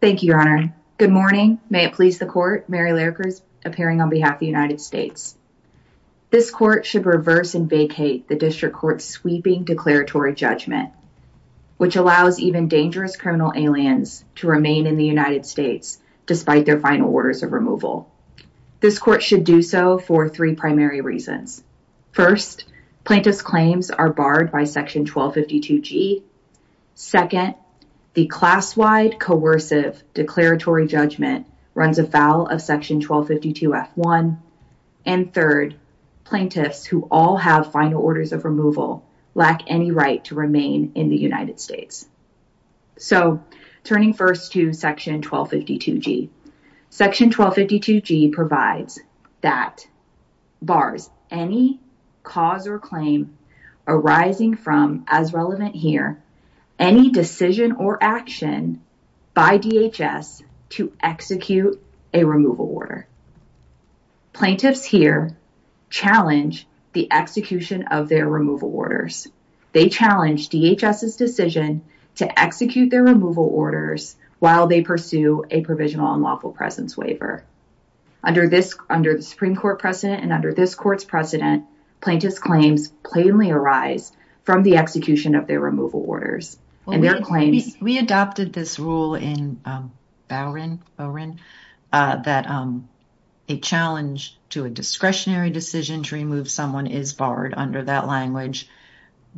Thank you, Your Honor. Good morning. May it please the Court, Mary Larkers, appearing on behalf of the United States. This Court should reverse and vacate the District Court's sweeping declaratory judgment, which allows even dangerous criminal aliens to remain in the United States despite their final orders of removal. This Court should do so for three primary reasons. First, plaintiff's claims are barred by Section 1252G. Second, the class-wide coercive declaratory judgment runs afoul of Section 1252F1. And third, plaintiffs who all have final orders of removal lack any right to remain in the United States. So, turning first to Section 1252G. Section 1252G provides that bars any cause or claim arising from, as relevant here, any decision or action by DHS to execute a removal order. Plaintiffs here challenge the execution of their removal orders. They challenge DHS's decision to execute their removal orders while they pursue a provisional unlawful presence waiver. Under the Supreme Court precedent and under this Court's precedent, plaintiffs' claims plainly arise from the execution of their removal orders. Mary Larkers Well, we adopted this rule in Bowren, that a challenge to a discretionary decision to remove someone is barred under that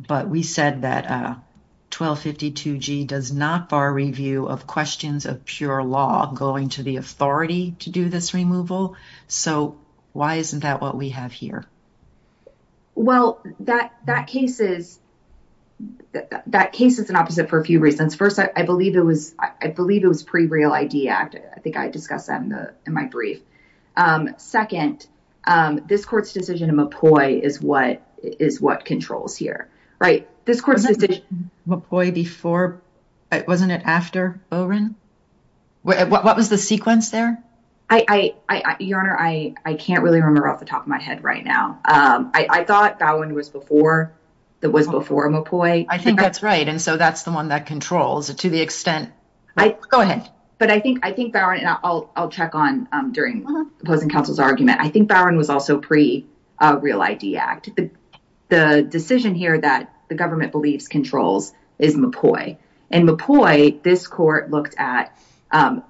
but we said that 1252G does not bar review of questions of pure law going to the authority to do this removal. So, why isn't that what we have here? Well, that case is an opposite for a few reasons. First, I believe it was pre-Real ID Act. I think Right, this Court's decision... Wasn't it before, wasn't it after Bowren? What was the sequence there? Your Honor, I can't really remember off the top of my head right now. I thought Bowren was before, it was before Mopoi. I think that's right and so that's the one that controls it to the extent... Go ahead. But I think Bowren, and I'll check on during opposing counsel's argument, I think Bowren was also pre-Real ID Act. The decision here that the government believes controls is Mopoi. In Mopoi, this Court looked at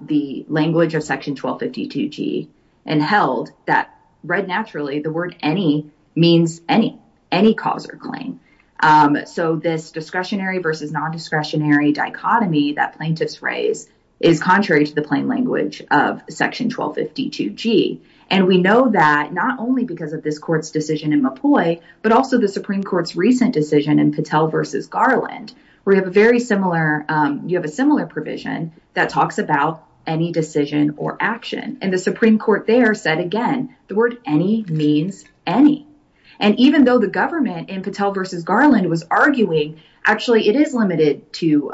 the language of section 1252G and held that, read naturally, the word any means any, any cause or claim. So, this discretionary versus non-discretionary dichotomy that plaintiffs raise is contrary to the plain language of section 1252G. And we know that not only because of this Court's decision in Mopoi, but also the Supreme Court's recent decision in Patel v. Garland, where you have a similar provision that talks about any decision or action. And the Supreme Court there said again, the word any means any. And even though the government in Patel v. Garland was arguing, actually, it is limited to...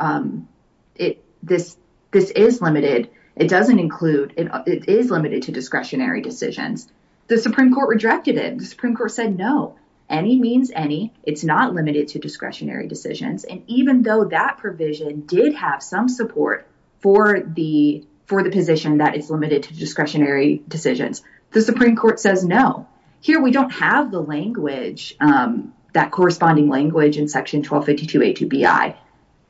This is limited. It doesn't include... It is limited to discretionary decisions. The Supreme Court rejected it. The Supreme Court said no, any means any. It's not limited to discretionary decisions. And even though that provision did have some support for the position that is limited to discretionary decisions, the Supreme Court says no. Here, we don't have the language, that corresponding language in section 1252A2BI.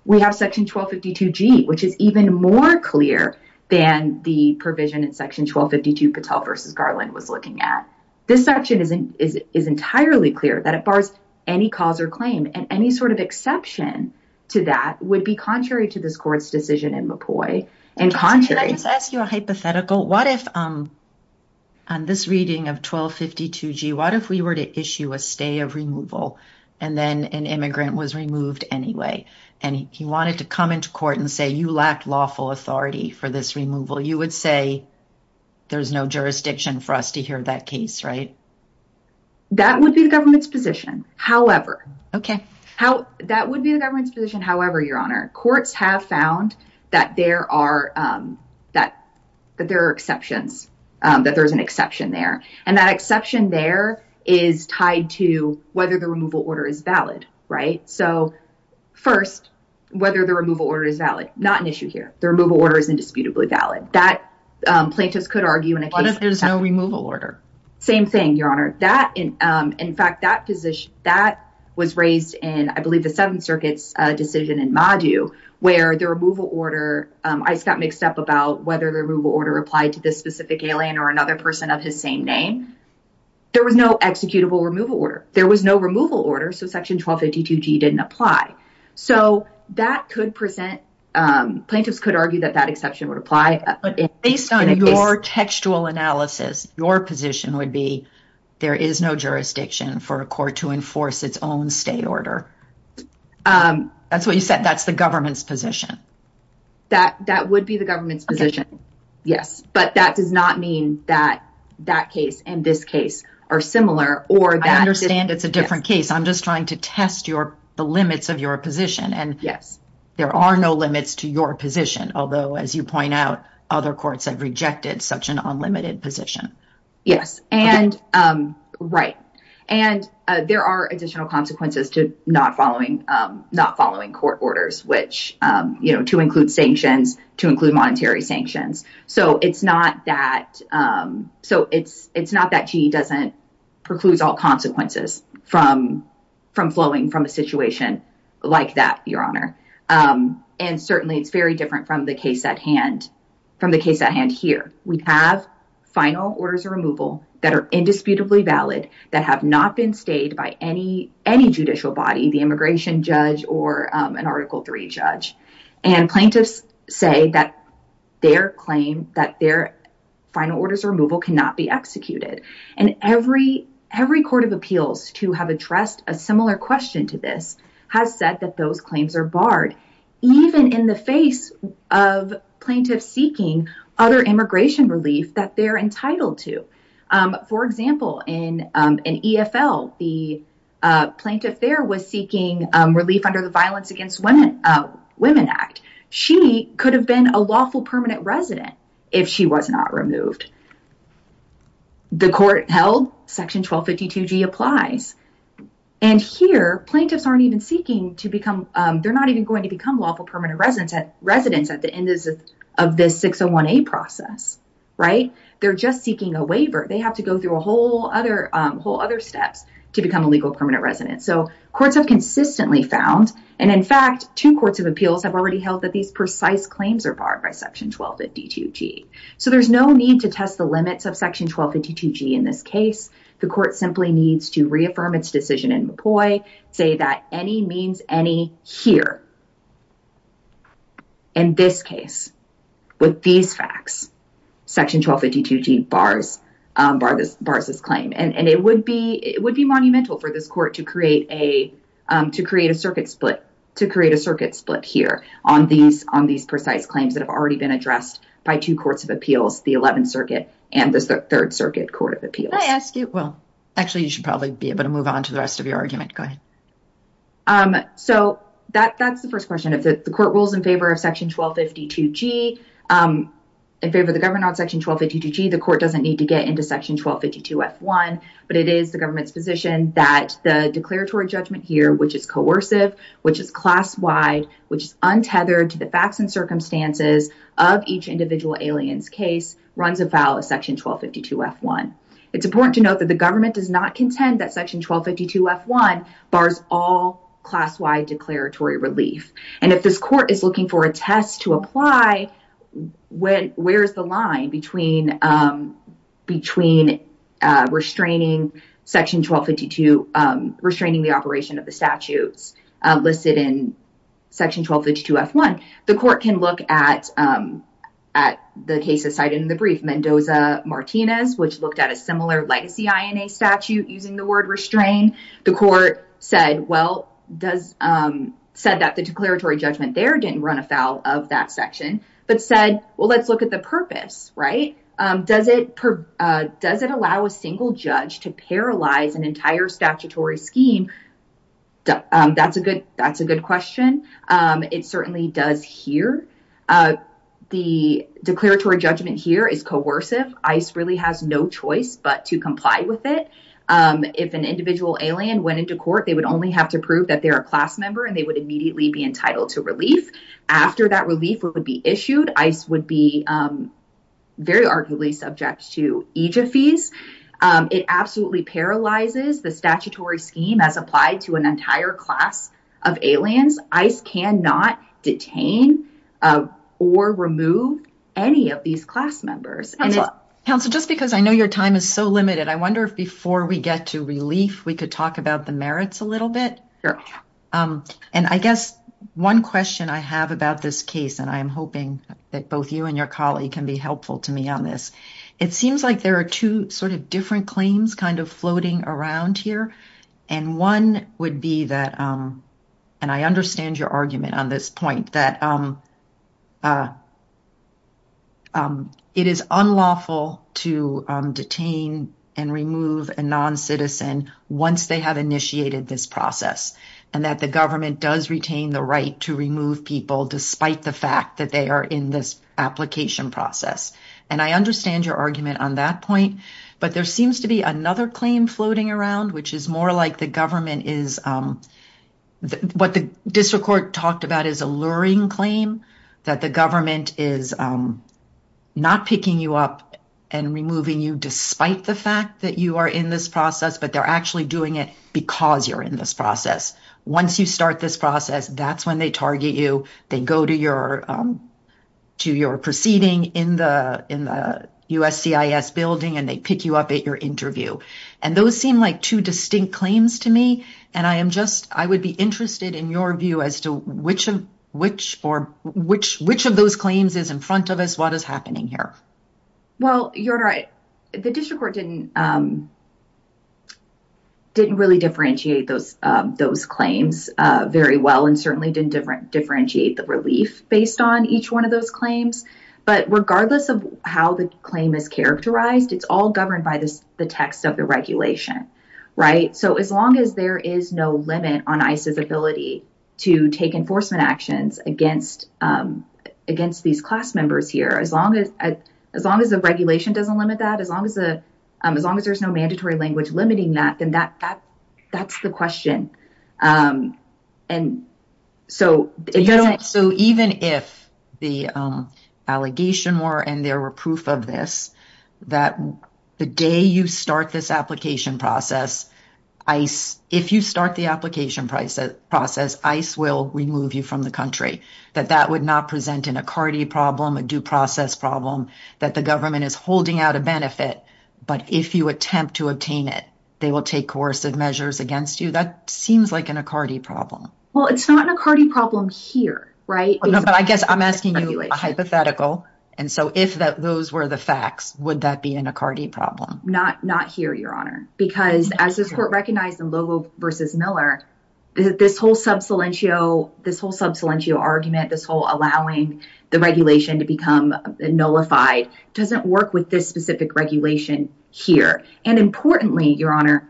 We have section 1252G, which is even more clear than the provision in section 1252 Patel v. Garland was looking at. This section is entirely clear that it bars any cause or claim. And any sort of exception to that would be contrary to this Court's decision in Mopoi. And contrary... Can I just ask you a hypothetical? What if on this reading of 1252G, what if we were to issue a stay of removal, and then an immigrant was removed anyway? And he wanted to come into court and say, you lack lawful authority for this removal. You would say, there's no jurisdiction for us to hear that case, right? That would be the government's position. However... Okay. That would be the government's position. However, Your Honor, courts have found that there are exceptions, that there's an exception there. And that exception there is tied to whether the removal order is valid, right? So first, whether the removal order is valid, not an issue here. The removal order is indisputably valid. That plaintiffs could argue in a case... What if there's no removal order? Same thing, Your Honor. In fact, that position, that was raised in, I believe, the Seventh Circuit's decision in Madu, where the removal order... I just got mixed up about whether the removal order applied to this specific alien or another person of his same name. There was no executable removal order. There was no removal order, so Section 1252G didn't apply. So that could present... Plaintiffs could argue that that exception would apply... Based on your textual analysis, your position would be, there is no jurisdiction for a court to enforce its own stay order. That's what you said. That's the government's position. That would be the government's position. Yes. But that does not mean that that case and this case are similar or that... I understand it's a different case. I'm just trying to test the limits of your position. And there are no limits to your position. Although, as you point out, other courts have rejected such an unlimited position. Yes. And... Right. And there are additional consequences to not following court orders, which... To include sanctions, to include monetary sanctions. So it's not that GE doesn't preclude all consequences from flowing from a situation like that, Your Honor. And certainly, it's very different from the case at hand here. We have final orders of removal that are indisputably valid, that have not been stayed by any judicial body, the immigration judge or an Article III judge. And plaintiffs say that their claim, that their final orders of removal cannot be executed. And every court of appeals to have addressed a similar question to this has said that those claims are barred, even in the face of plaintiffs seeking other immigration relief that they're entitled to. For example, in EFL, the plaintiff there was seeking relief under the Violence Against Women Act. She could have been a lawful permanent resident if she was not removed. The court held Section 1252G applies. And here, plaintiffs aren't even seeking to become... They're not even going to become lawful permanent residents at the end of this 601A process. Right? They're just seeking a waiver. They have to go through a whole other steps to become a legal permanent resident. So courts have consistently found, and in fact, two courts of appeals have already held that these precise claims are barred by Section 1252G. So there's no need to test the limits of Section 1252G in this case. The court simply needs to reaffirm its decision in Mpoy, say that any means any here. In this case, with these facts, Section 1252G bars this claim. And it would be monumental for this court to create a circuit split here on these precise claims that have already been addressed by two courts of appeals, the 11th Circuit and the 3rd Circuit Court of Appeals. Can I ask you... Well, actually, you should probably be able to move on to the rest of your argument. Go ahead. So that's the first question. If the court rules in favor of Section 1252G, in favor of the government on Section 1252G, the court doesn't need to get into Section 1252F1. But it is the government's position that the declaratory which is untethered to the facts and circumstances of each individual alien's case runs afoul of Section 1252F1. It's important to note that the government does not contend that Section 1252F1 bars all class-wide declaratory relief. And if this court is looking for a test to apply, where's the line between restraining Section 1252, restraining the operation of the statutes listed in Section 1252F1? The court can look at the case cited in the brief, Mendoza-Martinez, which looked at a similar legacy INA statute using the word restrain. The court said, well, said that the declaratory judgment there didn't run afoul of that section, but said, well, let's look at the purpose, right? Does it allow a single judge to paralyze an statutory scheme? That's a good question. It certainly does here. The declaratory judgment here is coercive. ICE really has no choice but to comply with it. If an individual alien went into court, they would only have to prove that they're a class member and they would immediately be entitled to relief. After that relief would be issued, ICE would be very arguably subject to fees. It absolutely paralyzes the statutory scheme as applied to an entire class of aliens. ICE cannot detain or remove any of these class members. Counsel, just because I know your time is so limited, I wonder if before we get to relief, we could talk about the merits a little bit. And I guess one question I have about this case, and I'm hoping that both you and your colleague can be helpful to me on this. It seems like there are two different claims floating around here. And one would be that, and I understand your argument on this point, that it is unlawful to detain and remove a non-citizen once they have initiated this process, and that the government does retain the right to remove people despite the fact that they are in this application process. And I understand your argument on that point, but there seems to be another claim floating around, which is more like the government is, what the district court talked about is a luring claim that the government is not picking you up and removing you despite the fact that you are in this process, but they're actually doing it because you're in this process. Once you start this process, that's when they target you. They go to your proceeding in the USCIS building, and they pick you up at your interview. And those seem like two distinct claims to me. And I would be interested in your view as to which of those claims is in front of us, what is happening here? Well, you're right. The district court didn't really differentiate those claims very well and certainly didn't differentiate the relief based on each one of those claims. But regardless of how the claim is characterized, it's all governed by the text of the regulation, right? So as long as there is no limit on ICE's ability to take enforcement actions against these class members here, as long as the regulation doesn't limit that, as long as there's no mandatory language limiting that, then that's the question. So even if the allegation were and there were proof of this, that the day you start this application process, if you start the application process, ICE will remove you from the country, that that would not present an ACARDI problem, a due process problem that the government is holding out a benefit. But if you attempt to obtain it, they will take coercive measures against you. That seems like an ACARDI problem. Well, it's not an ACARDI problem here, right? No, but I guess I'm asking you a hypothetical. And so if those were the facts, would that be an ACARDI problem? Not here, Your Honor, because as this court recognized in Lobo v. Miller, this whole sub salientio argument, this whole allowing the regulation to become nullified, doesn't work with this specific regulation here. And importantly, Your Honor,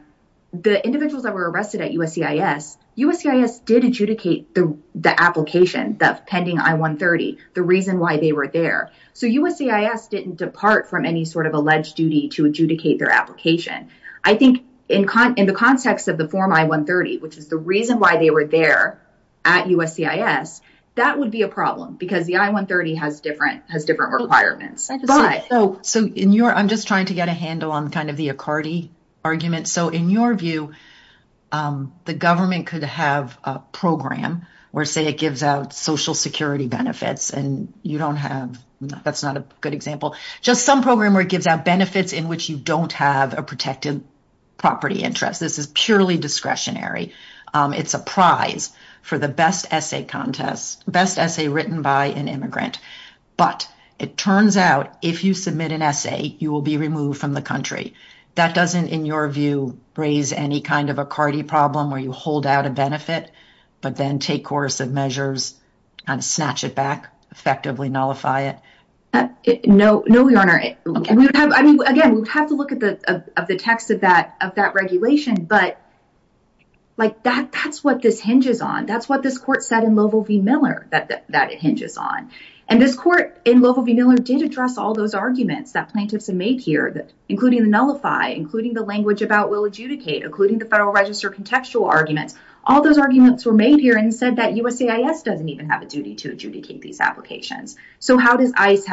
the individuals that were arrested at USCIS, USCIS did adjudicate the application, the pending I-130, the reason why they were there. So USCIS didn't depart from any sort of alleged duty to adjudicate their application. I think in the context of the form I-130, which is the reason why they were there at USCIS, that would be a problem because the I-130 has different requirements. So I'm just trying to get a handle on kind of the ACARDI argument. So in your view, the government could have a program where say it gives out social security benefits and you don't have, that's not a good example, just some program where it gives out benefits in which you don't have a protected property interest. This is purely discretionary. It's a prize for the best essay contest, best essay written by an immigrant. But it turns out if you submit an essay, you will be removed from the country. That doesn't, in your view, raise any kind of ACARDI problem where you hold out a benefit, but then take course of measures and snatch it back, effectively nullify it? No, no, Your Honor. Again, we'd have to look at the text of that regulation, but like that's what this hinges on. That's what this court said in Lovell v. Miller that it hinges on. And this court in Lovell v. Miller did address all those arguments that plaintiffs have made here, including the nullify, including the language about will adjudicate, including the Federal Register contextual arguments. All those arguments were made here and said that USCIS doesn't even have a duty to adjudicate these applications. So how does ICE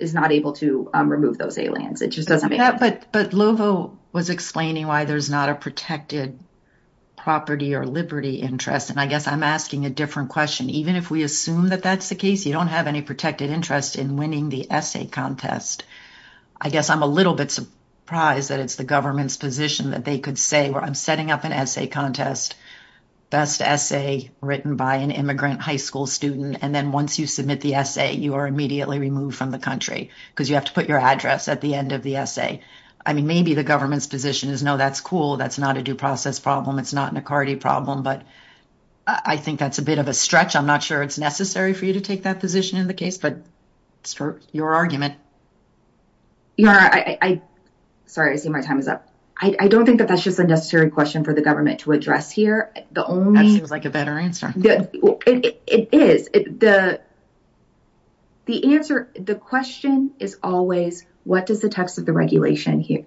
is not able to remove those aliens? But Lovell was explaining why there's not a protected property or liberty interest, and I guess I'm asking a different question. Even if we assume that that's the case, you don't have any protected interest in winning the essay contest. I guess I'm a little bit surprised that it's the government's position that they could say, well, I'm setting up an essay contest, best essay written by an immigrant high school student. And then once you submit the essay, you are immediately removed from the country because you have to put your address at the end of the essay. I mean, maybe the government's position is, no, that's cool. That's not a due process problem. It's not an Accardi problem. But I think that's a bit of a stretch. I'm not sure it's necessary for you to take that position in the case, but it's your argument. Your Honor, sorry, I see my time is up. I don't think that that's just a necessary question for the government to address here. That seems like a better answer. It is. The question is always, what does the text of the regulation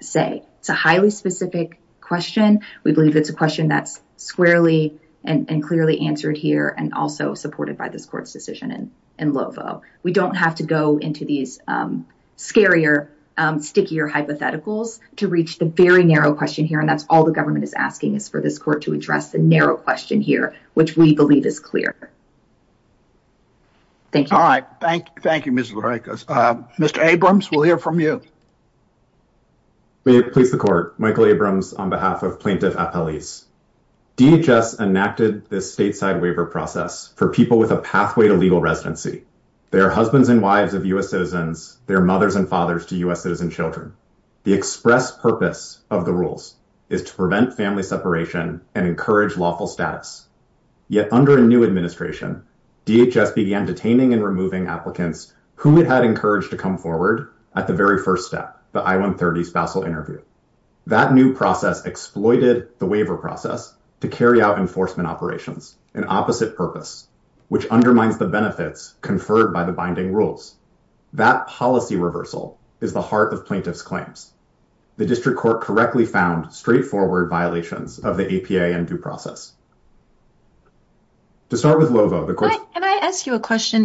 say? It's a highly specific question. We believe it's a question that's squarely and clearly answered here and also supported by this court's decision in Lovo. We don't have to go into these scarier, stickier hypotheticals to reach the very narrow question here. And that's all the government is asking is for this court to address the narrow question here, which we believe is clear. Thank you. All right. Thank you. Thank you, Mr. Barikos. Mr. Abrams, we'll hear from you. May it please the court. Michael Abrams on behalf of Plaintiff Appellees. DHS enacted this stateside waiver process for people with a pathway to legal residency, their husbands and wives of U.S. citizens, their mothers and fathers to U.S. citizen children. The express purpose of the rules is to prevent family separation and encourage lawful status. Yet under a new administration, DHS began detaining and removing applicants who had encouraged to come forward at the very first step, the I-130 spousal interview. That new process exploited the waiver process to carry out enforcement operations, an opposite purpose, which undermines the benefits conferred by the binding rules. That policy reversal is the heart of plaintiff's claims. The district court correctly found straightforward violations of the APA and due process. To start with Lovo. Can I ask you a question?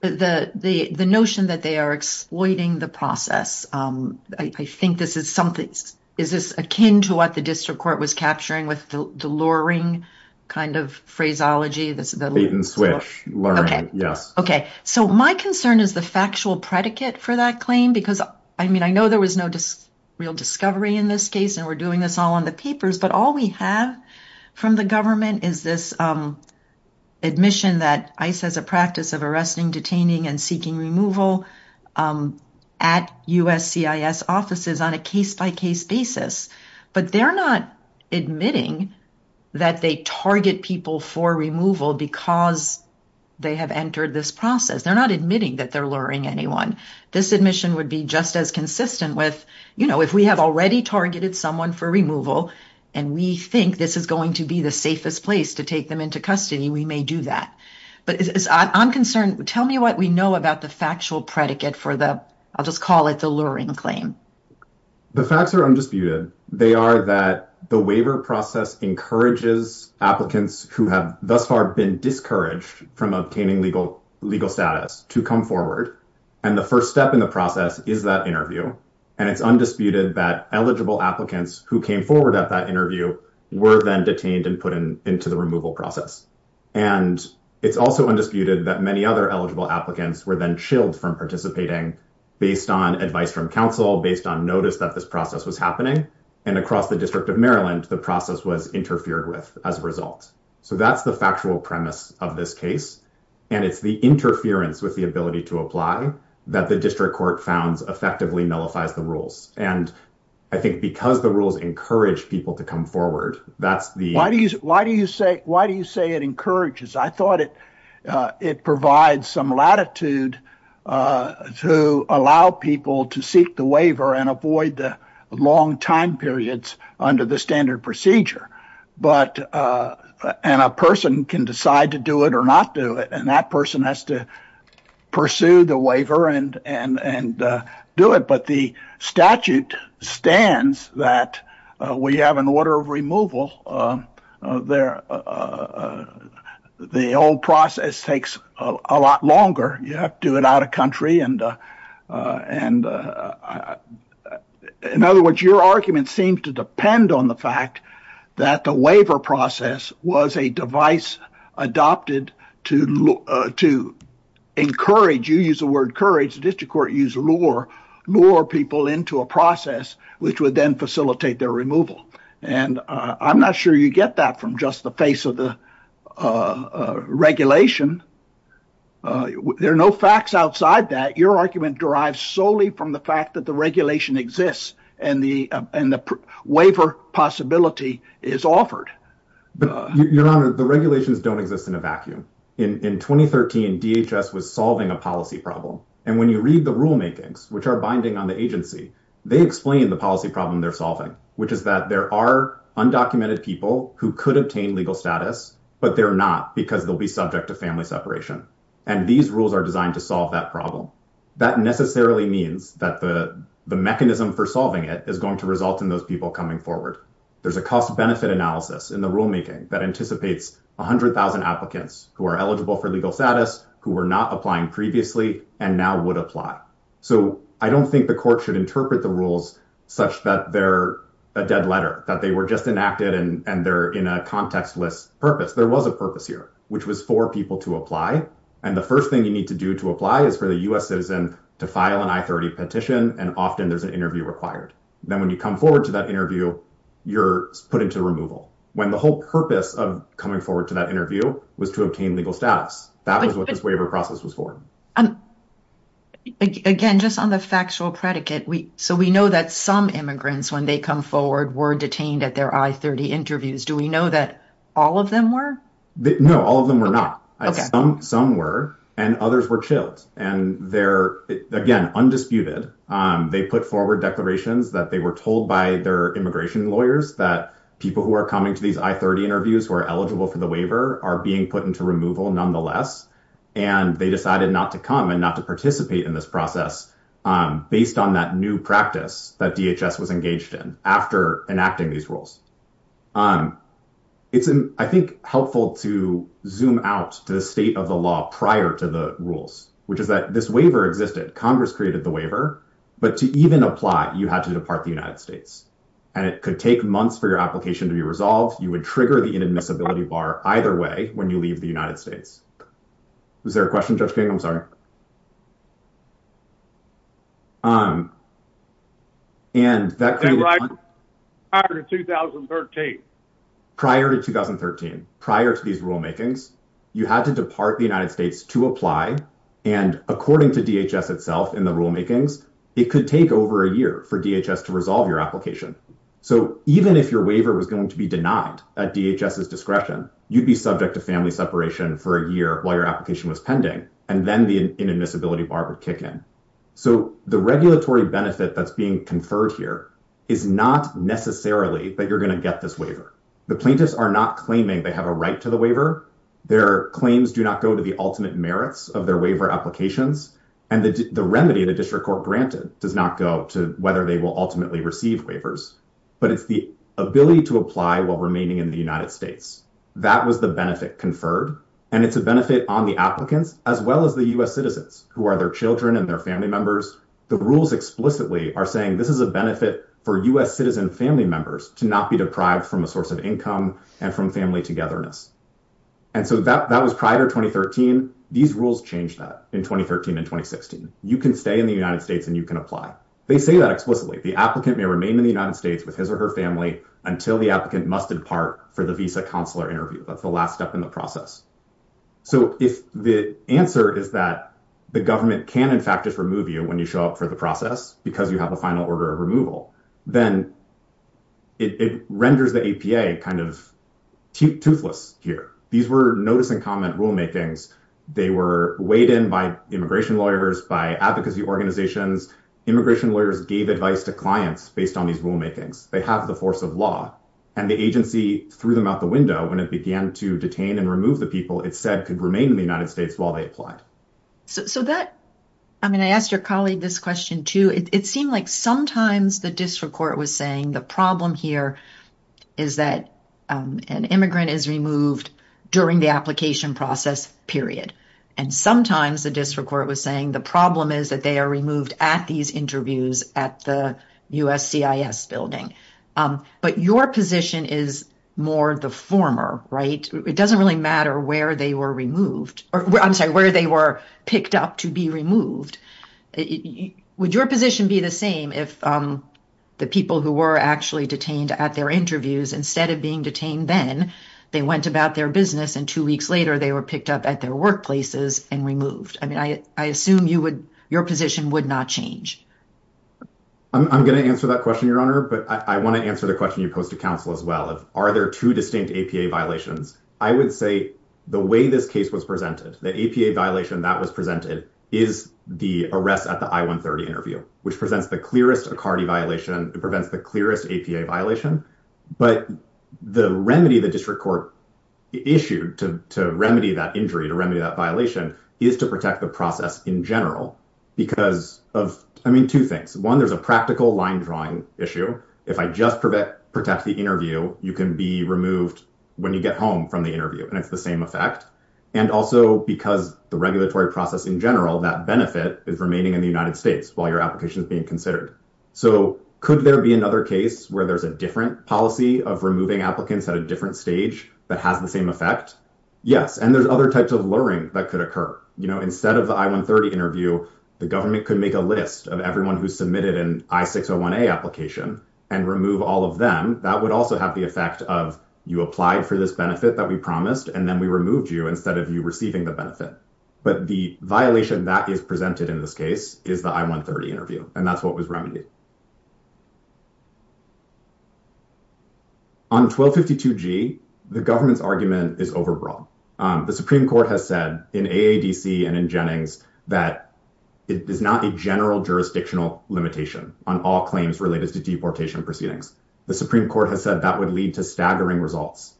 The notion that they are exploiting the process. I think this is something. Is this akin to what the district court was capturing with the luring kind of phraseology? The bait and switch. Luring. Yes. Okay. So my concern is the factual predicate for that claim, because I mean, I know there was no real discovery in this case, and we're doing this all on the papers, but all we have from the government is this admission that ICE has a practice of arresting, detaining and seeking removal at U.S. CIS offices on a case-by-case basis. But they're not admitting that they target people for removal because they have entered this process. They're not admitting that they're luring anyone. This admission would be just as consistent with, you know, if we have already targeted someone for removal and we think this is going to be the safest place to take them into custody, we may do that. But I'm concerned. Tell me what we know about the factual predicate for the, I'll just call it the luring claim. The facts are undisputed. They are that the waiver process encourages applicants who have thus far been discouraged from obtaining legal status to come forward. And the first step in the process is that interview. And it's undisputed that eligible applicants who came forward at that interview were then detained and put into the removal process. And it's also undisputed that many other eligible applicants were then chilled from participating based on advice from counsel, based on notice that this process was happening. And across the District of Maryland, the process was interfered with as a result. So that's the factual premise of this case. And it's the interference with the ability to apply that the district court founds effectively nullifies the rules. And I think because the rules encourage people to come forward, that's the. Why do you say it encourages? I thought it provides some latitude to allow people to seek the waiver and avoid the long time periods under the standard procedure. But and a person can decide to do it or not do it. And that person has to pursue the waiver and do it. But the statute stands that we have an order of removal there. The old process takes a lot longer. You know, in other words, your argument seemed to depend on the fact that the waiver process was a device adopted to look to encourage you use the word courage. The district court use law or more people into a process which would then facilitate their removal. And I'm not sure you get that from just the face of the regulation. There are no facts outside that your argument derived solely from the fact that the regulation exists and the and the waiver possibility is offered. Your Honor, the regulations don't exist in a vacuum. In 2013, DHS was solving a policy problem. And when you read the rulemakings, which are binding on the agency, they explain the policy problem they're solving, which is that there are undocumented people who could obtain legal status, but they're not because they'll be subject to family separation. And these rules are designed to solve that problem. That necessarily means that the mechanism for solving it is going to result in those people coming forward. There's a cost benefit analysis in the rulemaking that anticipates 100,000 applicants who are eligible for legal status who were not applying previously and now would apply. So I don't think the court should interpret the rules such that they're a dead letter, that they were just enacted and they're in a contextless purpose. There was a which was for people to apply. And the first thing you need to do to apply is for the U.S. citizen to file an I-30 petition. And often there's an interview required. Then when you come forward to that interview, you're put into removal when the whole purpose of coming forward to that interview was to obtain legal status. That was what this waiver process was for. Again, just on the factual predicate. So we know that some immigrants, when they come forward, were detained at their I-30 interviews. Do we know that all of them were? No, all of them were not. Some were and others were chilled. And they're, again, undisputed. They put forward declarations that they were told by their immigration lawyers that people who are coming to these I-30 interviews who are eligible for the waiver are being put into removal nonetheless. And they decided not to come and not to participate in this process based on that new practice that DHS was engaged in after enacting these rules. It's, I think, helpful to zoom out to the state of the law prior to the rules, which is that this waiver existed. Congress created the waiver. But to even apply, you had to depart the United States. And it could take months for your application to be resolved. You would trigger the inadmissibility bar either way when you leave the United States. Was there a question, Judge King? I'm sorry. Prior to 2013. Prior to 2013, prior to these rulemakings, you had to depart the United States to apply. And according to DHS itself in the rulemakings, it could take over a year for DHS to resolve your application. So even if your waiver was going to be denied at DHS's discretion, you'd be subject to family separation for a year while your application was pending. And then the inadmissibility bar would kick in. So the regulatory benefit that's being conferred here is not necessarily that you're going to get this waiver. The plaintiffs are not claiming they have a right to the waiver. Their claims do not go to the ultimate merits of their waiver applications. And the remedy the district court granted does not go to whether they will ultimately receive waivers. But it's the ability to apply while remaining in the United States. That was the benefit conferred. And it's a benefit on the applicants as well as the U.S. citizens who are their children and their family members. The rules explicitly are saying this is a benefit for U.S. citizen family members to not be deprived from a source of income and from family togetherness. And so that was prior to 2013. These rules changed that in 2013 and 2016. You can stay in the United States and you can apply. They say that explicitly. The applicant may remain in the United States with his or her family until the applicant must depart for the visa counselor interview. That's the last step in the process. So if the answer is that the government can, in fact, just remove you when you show up for the process because you have a final order of removal, then it renders the APA kind of toothless here. These were notice and comment rulemakings. They were weighed in by immigration lawyers, by advocacy organizations. Immigration lawyers gave advice to clients based on these rulemakings. They have the force of law. And the agency threw them out the window when it began to detain and remove the people it said could remain in the United States while they applied. So that, I mean, I asked your colleague this question, too. It seemed like sometimes the district court was saying the problem here is that an immigrant is removed during the application process, period. And sometimes the district court was saying the problem is that they are removed at these interviews at the USCIS building. But your position is more the former, right? It doesn't really matter where they were removed. I'm sorry, where they were picked up to be removed. Would your position be the same if the people who were actually detained at their interviews, instead of being detained then, they went about their business and two weeks later, they were removed? Would that change? I'm going to answer that question, Your Honor. But I want to answer the question you posed to counsel as well. Are there two distinct APA violations? I would say the way this case was presented, the APA violation that was presented is the arrest at the I-130 interview, which presents the clearest ACARDI violation. It prevents the clearest APA violation. But the remedy the district court issued to remedy that injury, to remedy that violation, is to protect the process in general because of, I mean, two things. One, there's a practical line drawing issue. If I just protect the interview, you can be removed when you get home from the interview. And it's the same effect. And also because the regulatory process in general, that benefit is remaining in the United States while your application is being considered. So could there be another case where there's a different policy of removing applicants at a You know, instead of the I-130 interview, the government could make a list of everyone who submitted an I-601A application and remove all of them. That would also have the effect of you applied for this benefit that we promised, and then we removed you instead of you receiving the benefit. But the violation that is presented in this case is the I-130 interview. And that's what was remedied. On 1252G, the government's argument is overbroad. The Supreme Court has said in AADC and in Jennings that it is not a general jurisdictional limitation on all claims related to deportation proceedings. The Supreme Court has said that would lead to staggering results.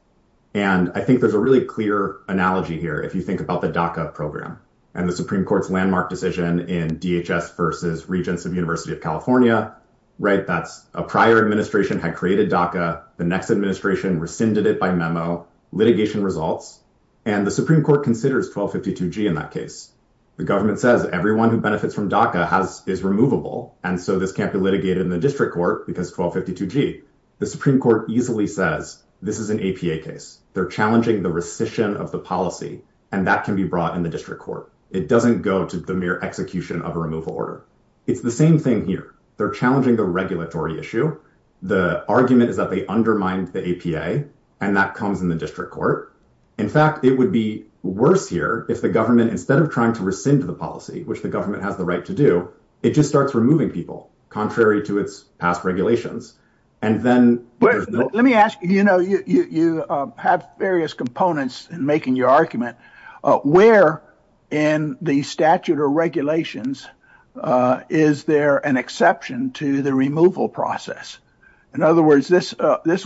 And I think there's a really clear analogy here if you think about the DACA program and the Supreme Court's landmark decision in DHS versus Regents of University of California, right? That's a prior administration had created DACA. The next administration rescinded it by memo litigation results. And the Supreme Court considers 1252G in that case. The government says everyone who benefits from DACA is removable. And so this can't be litigated in the district court because 1252G. The Supreme Court easily says this is an APA case. They're challenging the rescission of the policy, and that can be brought in the district court. It doesn't go to the mere execution of a removal order. It's the same thing here. They're challenging the issue. The argument is that they undermined the APA, and that comes in the district court. In fact, it would be worse here if the government, instead of trying to rescind the policy, which the government has the right to do, it just starts removing people, contrary to its past regulations. And then let me ask, you know, you have various components in making your argument. Where in the statute or regulations is there an exception to the removal process? In other words, this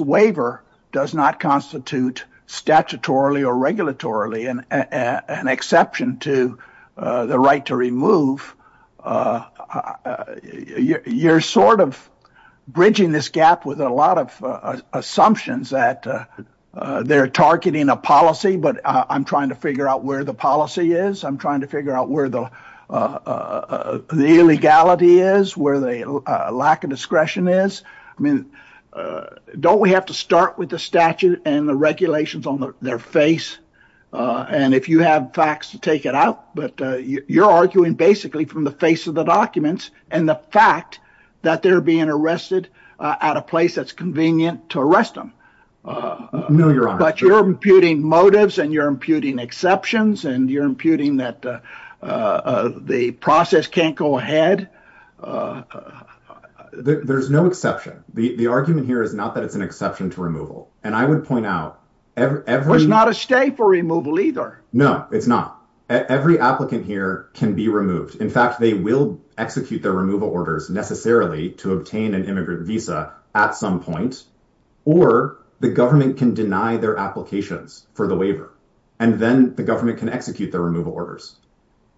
waiver does not constitute statutorily or regulatorily an exception to the right to remove. You're sort of bridging this gap with a lot of assumptions that they're targeting a policy, but I'm trying to figure out where the policy is. I'm trying to figure out where the illegality is, where the lack of discretion is. I mean, don't we have to start with the statute and the regulations on their face? And if you have facts, take it out. But you're arguing basically from the face of the documents and the fact that they're being arrested at a place that's convenient to arrest them. But you're imputing motives and you're imputing exceptions and you're imputing that the process can't go ahead. There's no exception. The argument here is not that it's an exception to removal. And I would point out, it's not a stay for removal either. No, it's not. Every applicant here can be removed. In fact, they will execute their removal orders necessarily to obtain an immigrant visa at some point, or the government can deny their applications for the waiver and then the government can execute the removal orders.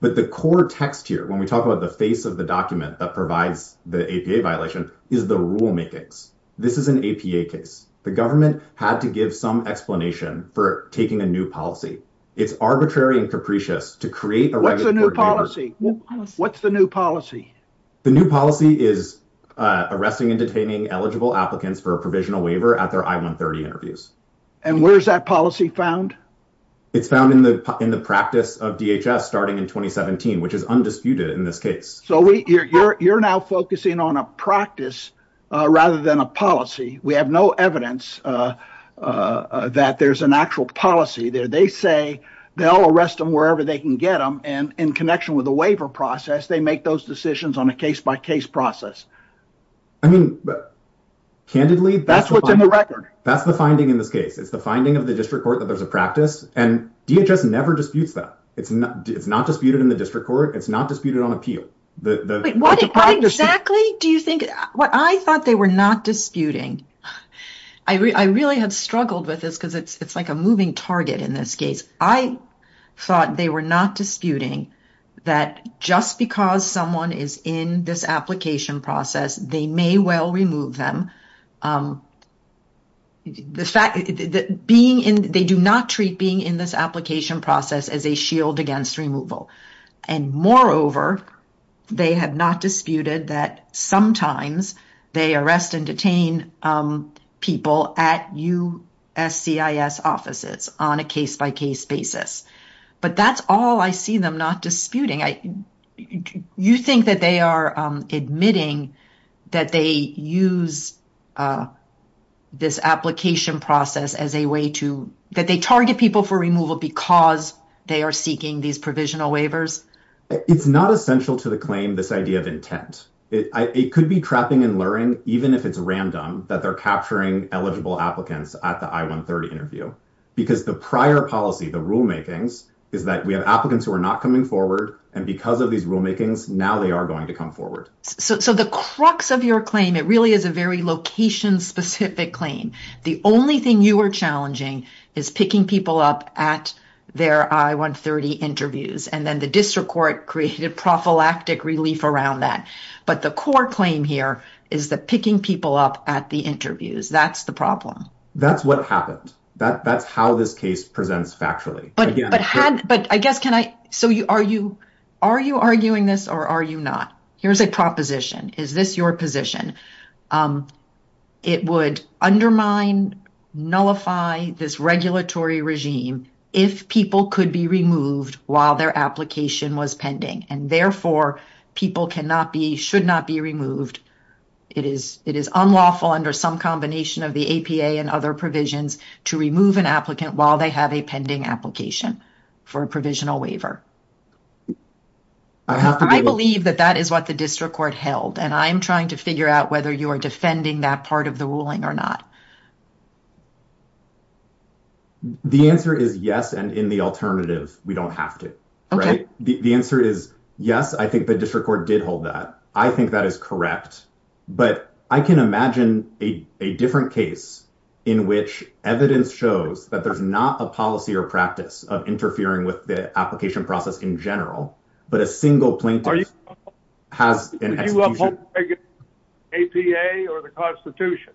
But the core text here, when we talk about the face of the document that provides the APA violation, is the rulemakings. This is an APA case. The government had to give some explanation for taking a new policy. It's arbitrary and capricious to create a regulatory waiver. What's the new policy? The new policy is arresting and detaining eligible applicants for a provisional waiver at their I-130 interviews. And where is that policy found? It's found in the practice of DHS starting in 2017, which is undisputed in this case. So you're now focusing on a practice rather than a policy. We have no evidence that there's an actual policy there. They say they'll arrest them wherever they can get them. In connection with the waiver process, they make those decisions on a case-by-case process. I mean, candidly, that's what's in the record. That's the finding in this case. It's the finding of the district court that there's a practice. And DHS never disputes that. It's not disputed in the district court. It's not disputed on appeal. What exactly do you think? I thought they were not disputing. I really had struggled with this because it's like a moving target in this case. I thought they were not disputing that just because someone is in this application process, they may well remove them. They do not treat being in this application process as a shield against removal. And moreover, they have not disputed that sometimes they arrest and detain people at USCIS offices on a case-by-case basis. But that's all I see them not disputing. You think that they are admitting that they use this application process as a way to that they target people for removal because they are seeking these provisional waivers? It's not essential to the claim, this idea of intent. It could be trapping and luring, even if it's random, that they're capturing eligible applicants at the I-130 interview. Because the prior policy, the rulemakings, is that we have applicants who are not coming forward. And because of these rulemakings, now they are going to come forward. So the crux of your claim, it really is a very location-specific claim. The only thing you are challenging is picking people up at their I-130 interviews. And then the district court created prophylactic relief around that. But the core claim here is that picking people up at the interviews, that's the problem. That's what happened. That's how this case presents factually. But I guess, are you arguing this or are you not? Here's a proposition. Is this your position? It would undermine, nullify this regulatory regime if people could be removed while their application was pending. And therefore, people should not be removed. It is unlawful under some combination of the APA and other provisions to remove an applicant while they have a pending application for a provisional waiver. I believe that that is what the district court held. And I'm trying to figure out whether you are defending that part of the ruling or not. The answer is yes. And in the alternative, we don't have to. The answer is yes, I think the district court did hold that. I think that is correct. But I can imagine a different case in which evidence shows that there's not a policy or practice of interfering with the application process in general, but a single plaintiff has an execution. The APA or the Constitution?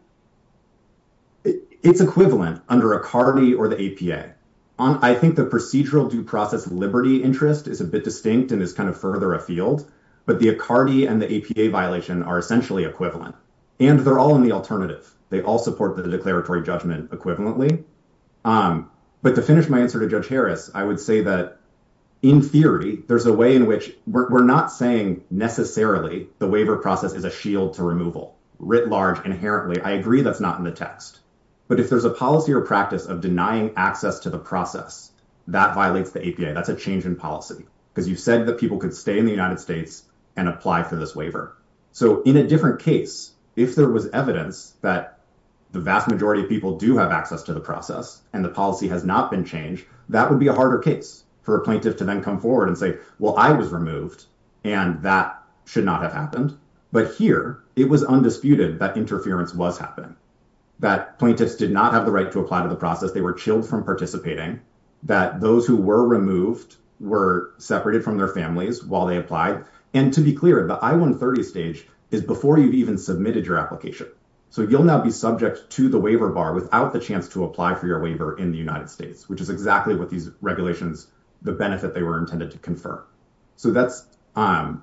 It's equivalent under ACARDI or the APA. I think the procedural due process liberty interest is a bit distinct and is kind of further afield. But the ACARDI and the APA violation are essentially equivalent. And they're all in the alternative. They all support the declaratory judgment equivalently. But to finish my answer to Judge Harris, I would say that in theory, there's a way in which we're not saying necessarily the waiver process is a shield to removal, writ large, inherently. I agree that's not in the text. But if there's a policy or practice of denying access to the process, that violates the APA. That's a change in policy because you said that people could stay in the United States and apply for this waiver. So in a different case, if there was evidence that the vast majority of people do have access to the process and the policy has not been changed, that would be a harder case for a plaintiff to come forward and say, well, I was removed and that should not have happened. But here, it was undisputed that interference was happening. That plaintiffs did not have the right to apply to the process. They were chilled from participating. That those who were removed were separated from their families while they applied. And to be clear, the I-130 stage is before you've even submitted your application. So you'll now be subject to the waiver bar without the chance to apply for your waiver in the United States, which is exactly what these regulations, the benefit they were intended to confer. So that's what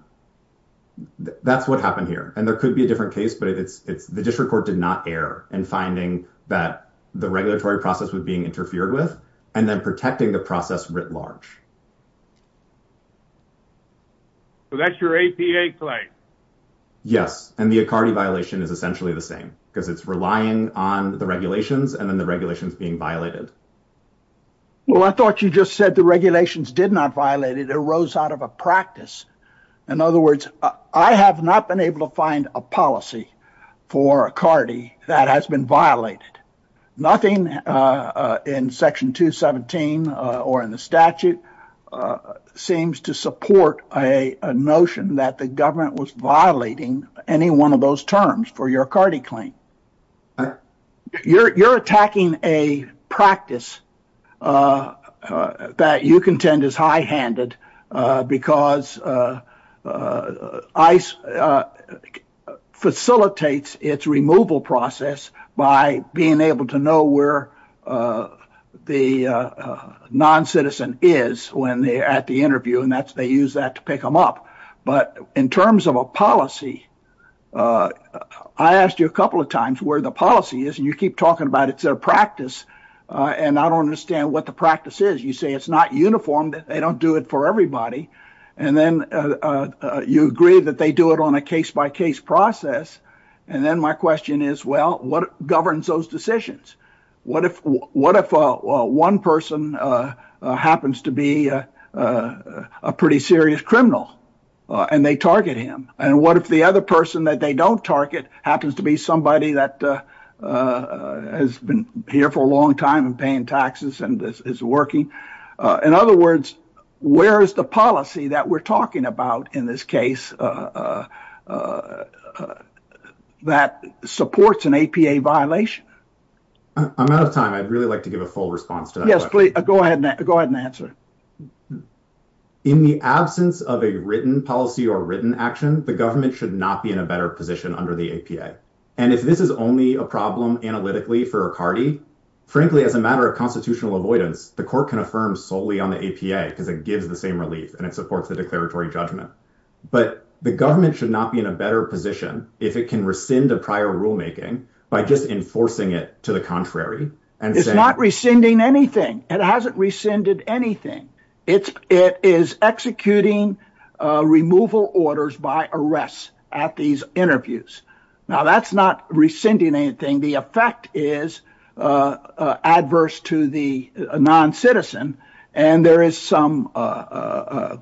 happened here. And there could be a different case, but it's the district court did not err in finding that the regulatory process was being interfered with and then protecting the process writ large. So that's your APA claim? Yes. And the Acardi violation is essentially the same because it's relying on the regulations and then the regulations being violated. Well, I thought you just said the regulations did not violate it. It arose out of a practice. In other words, I have not been able to find a policy for Acardi that has been violated. Nothing in Section 217 or in the statute seems to support a notion that the government was violating the regulations. I don't think there's a practice that you contend is high-handed because ICE facilitates its removal process by being able to know where the non-citizen is when they're at the interview, and they use that to pick them up. But in terms of a policy, I asked you a couple of times where the policy is, and you keep talking about it's a practice and I don't understand what the practice is. You say it's not uniform, they don't do it for everybody, and then you agree that they do it on a case-by-case process, and then my question is, well, what governs those decisions? What if one person happens to be a pretty serious criminal and they target him? And what if the other person that they don't target happens to be somebody that has been here for a long time and paying taxes and is working? In other words, where is the policy that we're talking about in this case that supports an APA violation? I'm out of time. I'd really like to give a full response to that. Yes, please. Go ahead and answer. In the absence of a written policy or written action, the government should not be in a better position under the APA. And if this is only a problem analytically for a party, frankly, as a matter of constitutional avoidance, the court can affirm solely on the APA because it gives the same relief and it supports the declaratory judgment. But the government should not be in a better position if it can rescind a prior rulemaking by just enforcing it to the contrary. It's not rescinding anything. It hasn't rescinded anything. It is executing removal orders by arrest at these interviews. Now, that's not rescinding anything. The effect is adverse to the non-citizen. And there is some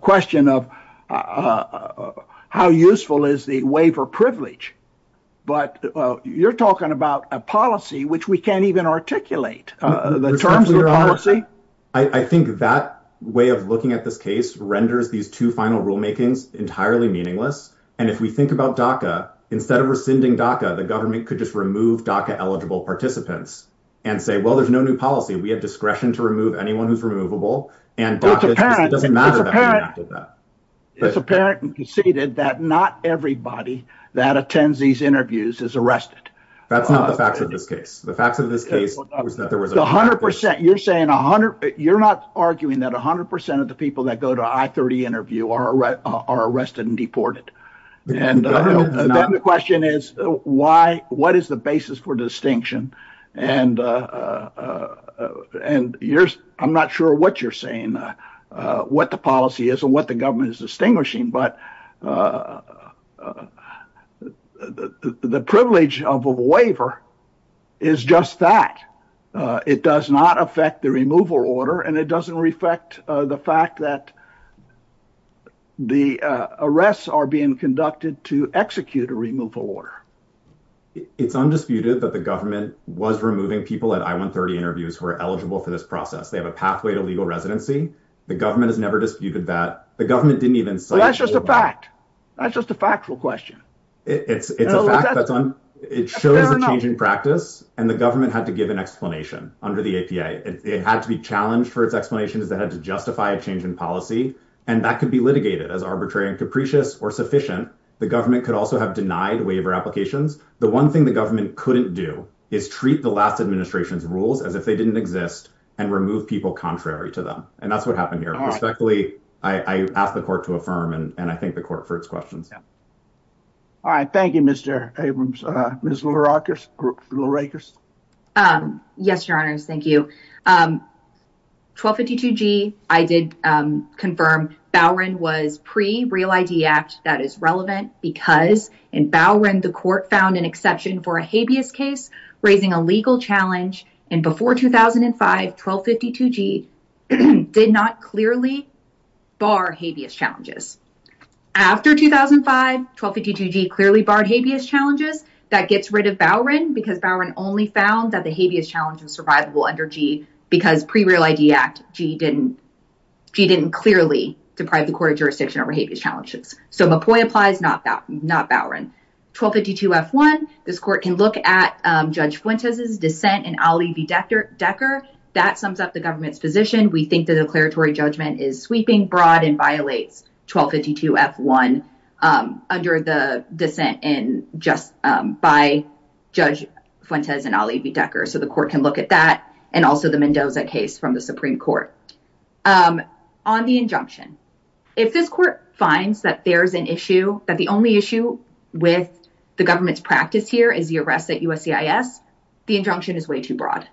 question of how useful is the waiver privilege. But you're talking about a policy which we can't even articulate the terms of the policy. I think that way of looking at this case renders these two final rulemakings entirely meaningless. And if we think about DACA, instead of rescinding DACA, the government could just remove DACA eligible participants and say, well, there's no new policy. We have discretion to remove anyone who's removable. And it doesn't matter that we enacted that. It's apparent and conceded that not everybody that attends these interviews is arrested. That's not the facts of this case. The facts of this case was that there was 100 percent. You're saying 100. You're not arguing that 100 percent of the people that go to I-30 interview are arrested and deported. And the question is, why? What is the basis for distinction? And and I'm not sure what you're saying, what the policy is and what the government is distinguishing. But the privilege of a waiver is just that it does not affect the removal order and it doesn't reflect the fact that the arrests are being conducted to execute a removal order. It's undisputed that the government was removing people at I-130 interviews who are eligible for this process. They have a pathway to legal residency. The government has never disputed that. The government didn't even say that's just a fact. That's just a factual question. It's a fact. It shows a change in practice. And the government had to give an explanation under the APA. It had to be challenged for its explanations that had to justify a change in policy. And that could be litigated as arbitrary and capricious or sufficient. The government could also have denied waiver applications. The one thing the government couldn't do is treat the last administration's rules as if they didn't exist and remove people contrary to them. And that's what happened here. Respectfully, I asked the court to affirm and I thank the court for its questions. All right. Thank you, Mr. Abrams. Ms. Lurakis. Yes, your honors. Thank you. 1252G, I did confirm Bowron was pre-Real ID Act. That is relevant because in Bowron, the court found an exception for a habeas case, raising a legal challenge. And before 2005, 1252G did not clearly bar habeas challenges. After 2005, 1252G clearly barred habeas challenges. That gets rid of Bowron because Bowron only found that the habeas challenge was survivable under G because pre-Real ID Act, G didn't clearly deprive the court of jurisdiction over habeas challenges. So Mpoy applies, not Bowron. 1252F1, this court can look at Judge Fuentes' dissent in Ali v. Decker. That sums up the government's position. We think the declaratory judgment is sweeping, broad and violates 1252F1 under the dissent by Judge Fuentes and Ali v. Decker. So the court can look at that and also the Mendoza case from the Supreme Court. On the injunction, if this court finds that there's an issue, that the only issue with the government's practice here is the arrest at USCIS, the injunction is way too broad.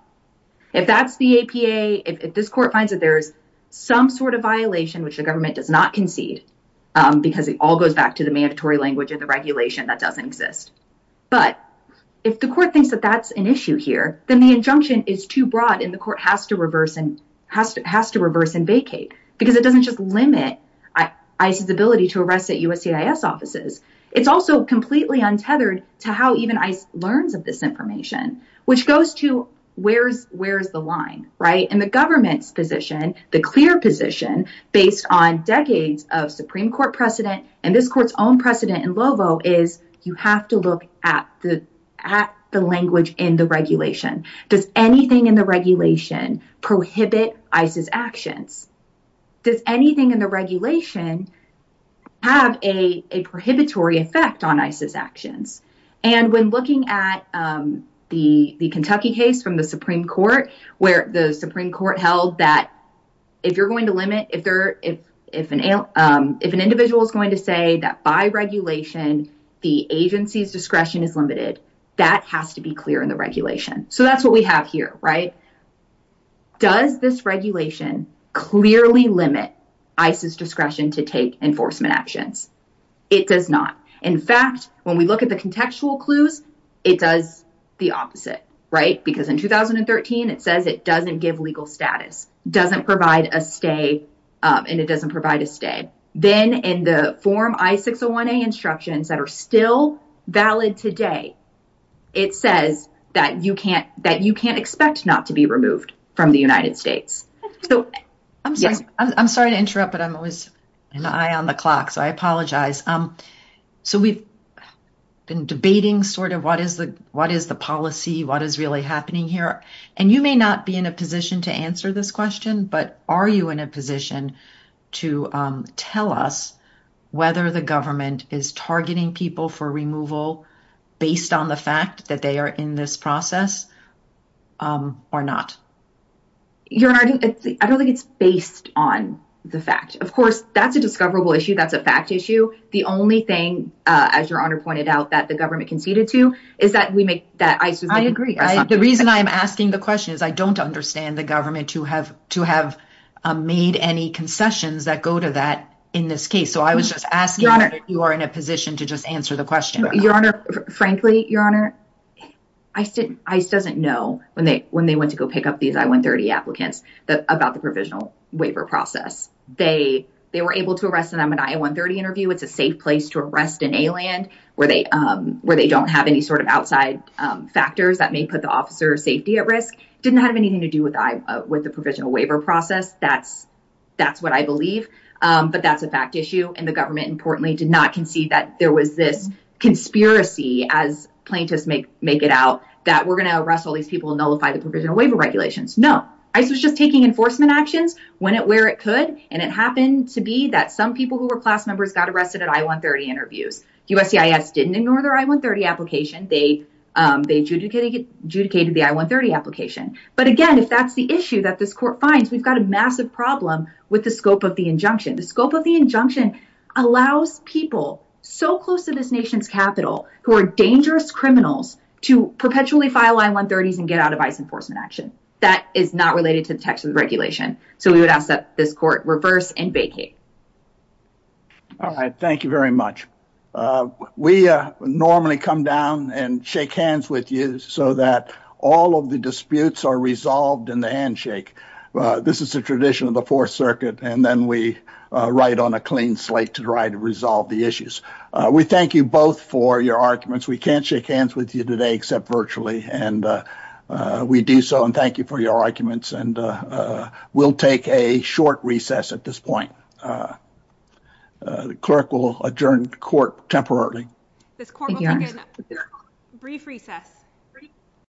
If that's the APA, if this court finds that there's some sort of violation which the government does not concede, because it all goes back to the mandatory language of the regulation that doesn't exist. But if the court thinks that that's an issue here, then the injunction is too broad and the court has to reverse and vacate because it doesn't just limit ICE's ability to arrest at USCIS It's also completely untethered to how even ICE learns of this information, which goes to where's the line, right? And the government's position, the clear position based on decades of Supreme Court precedent and this court's own precedent in Lovo is you have to look at the language in the regulation. Does anything in the regulation prohibit ICE's actions? Does anything in the regulation have a prohibitory effect on ICE's actions? And when looking at the Kentucky case from the Supreme Court, where the Supreme Court held that if you're going to limit, if an individual is going to say that by regulation the agency's discretion is limited, that has to be clear in the regulation. So that's what we have here, right? Does this regulation clearly limit ICE's discretion to take enforcement actions? It does not. In fact, when we look at the contextual clues, it does the opposite, right? Because in 2013, it says it doesn't give legal status, doesn't provide a stay, and it doesn't provide a stay. Then in the form I-601A instructions that are still valid today, it says that you can't expect not to be removed from the United States. So I'm sorry to interrupt, but I'm always an eye on the clock, so I apologize. So we've been debating sort of what is the policy, what is really happening here, and you may not be in a position to answer this question, but are you in a position to tell us whether the government is targeting people for removal based on the fact that they are in this process or not? Your Honor, I don't think it's based on the fact. Of course, that's a discoverable issue, that's a fact issue. The only thing, as Your Honor pointed out, that the government conceded to is that we make, that ICE is making, right? I agree. The reason I'm asking the question is I don't understand the government to have made any concessions that go to that in this case. So I was just asking whether you are in a position to just answer the question. Frankly, Your Honor, ICE doesn't know when they went to go pick up these I-130 applicants about the provisional waiver process. They were able to arrest them in an I-130 interview. It's a safe place to arrest an alien where they don't have any sort of outside factors that may put the officer's safety at risk. It didn't have anything to do with the provisional waiver process. That's what I believe, but that's a fact issue, and the government, importantly, did not concede that there was this conspiracy, as plaintiffs make it out, that we're going to arrest all these people and nullify the provisional waiver regulations. No. ICE was just taking enforcement actions when and where it could, and it happened to be that some people who were class members got arrested at I-130 interviews. USCIS didn't ignore their I-130 application. They adjudicated the I-130 application. But again, if that's the issue that this court finds, we've got a massive problem with the scope of the injunction. The scope of the injunction allows people so close to this nation's capital who are dangerous criminals to perpetually file I-130s and get out of ICE enforcement action. That is not related to the text of the regulation, so we would ask that this court reverse and vacate. All right. Thank you very much. We normally come down and shake hands with you so that all of the disputes are resolved in the handshake. This is the tradition of the Fourth Circuit, and then we write on a clean slate to try to resolve the issues. We thank you both for your arguments. We can't shake hands with you today except virtually, and we do so, and thank you for your arguments. And we'll take a short recess at this point. The clerk will adjourn court temporarily.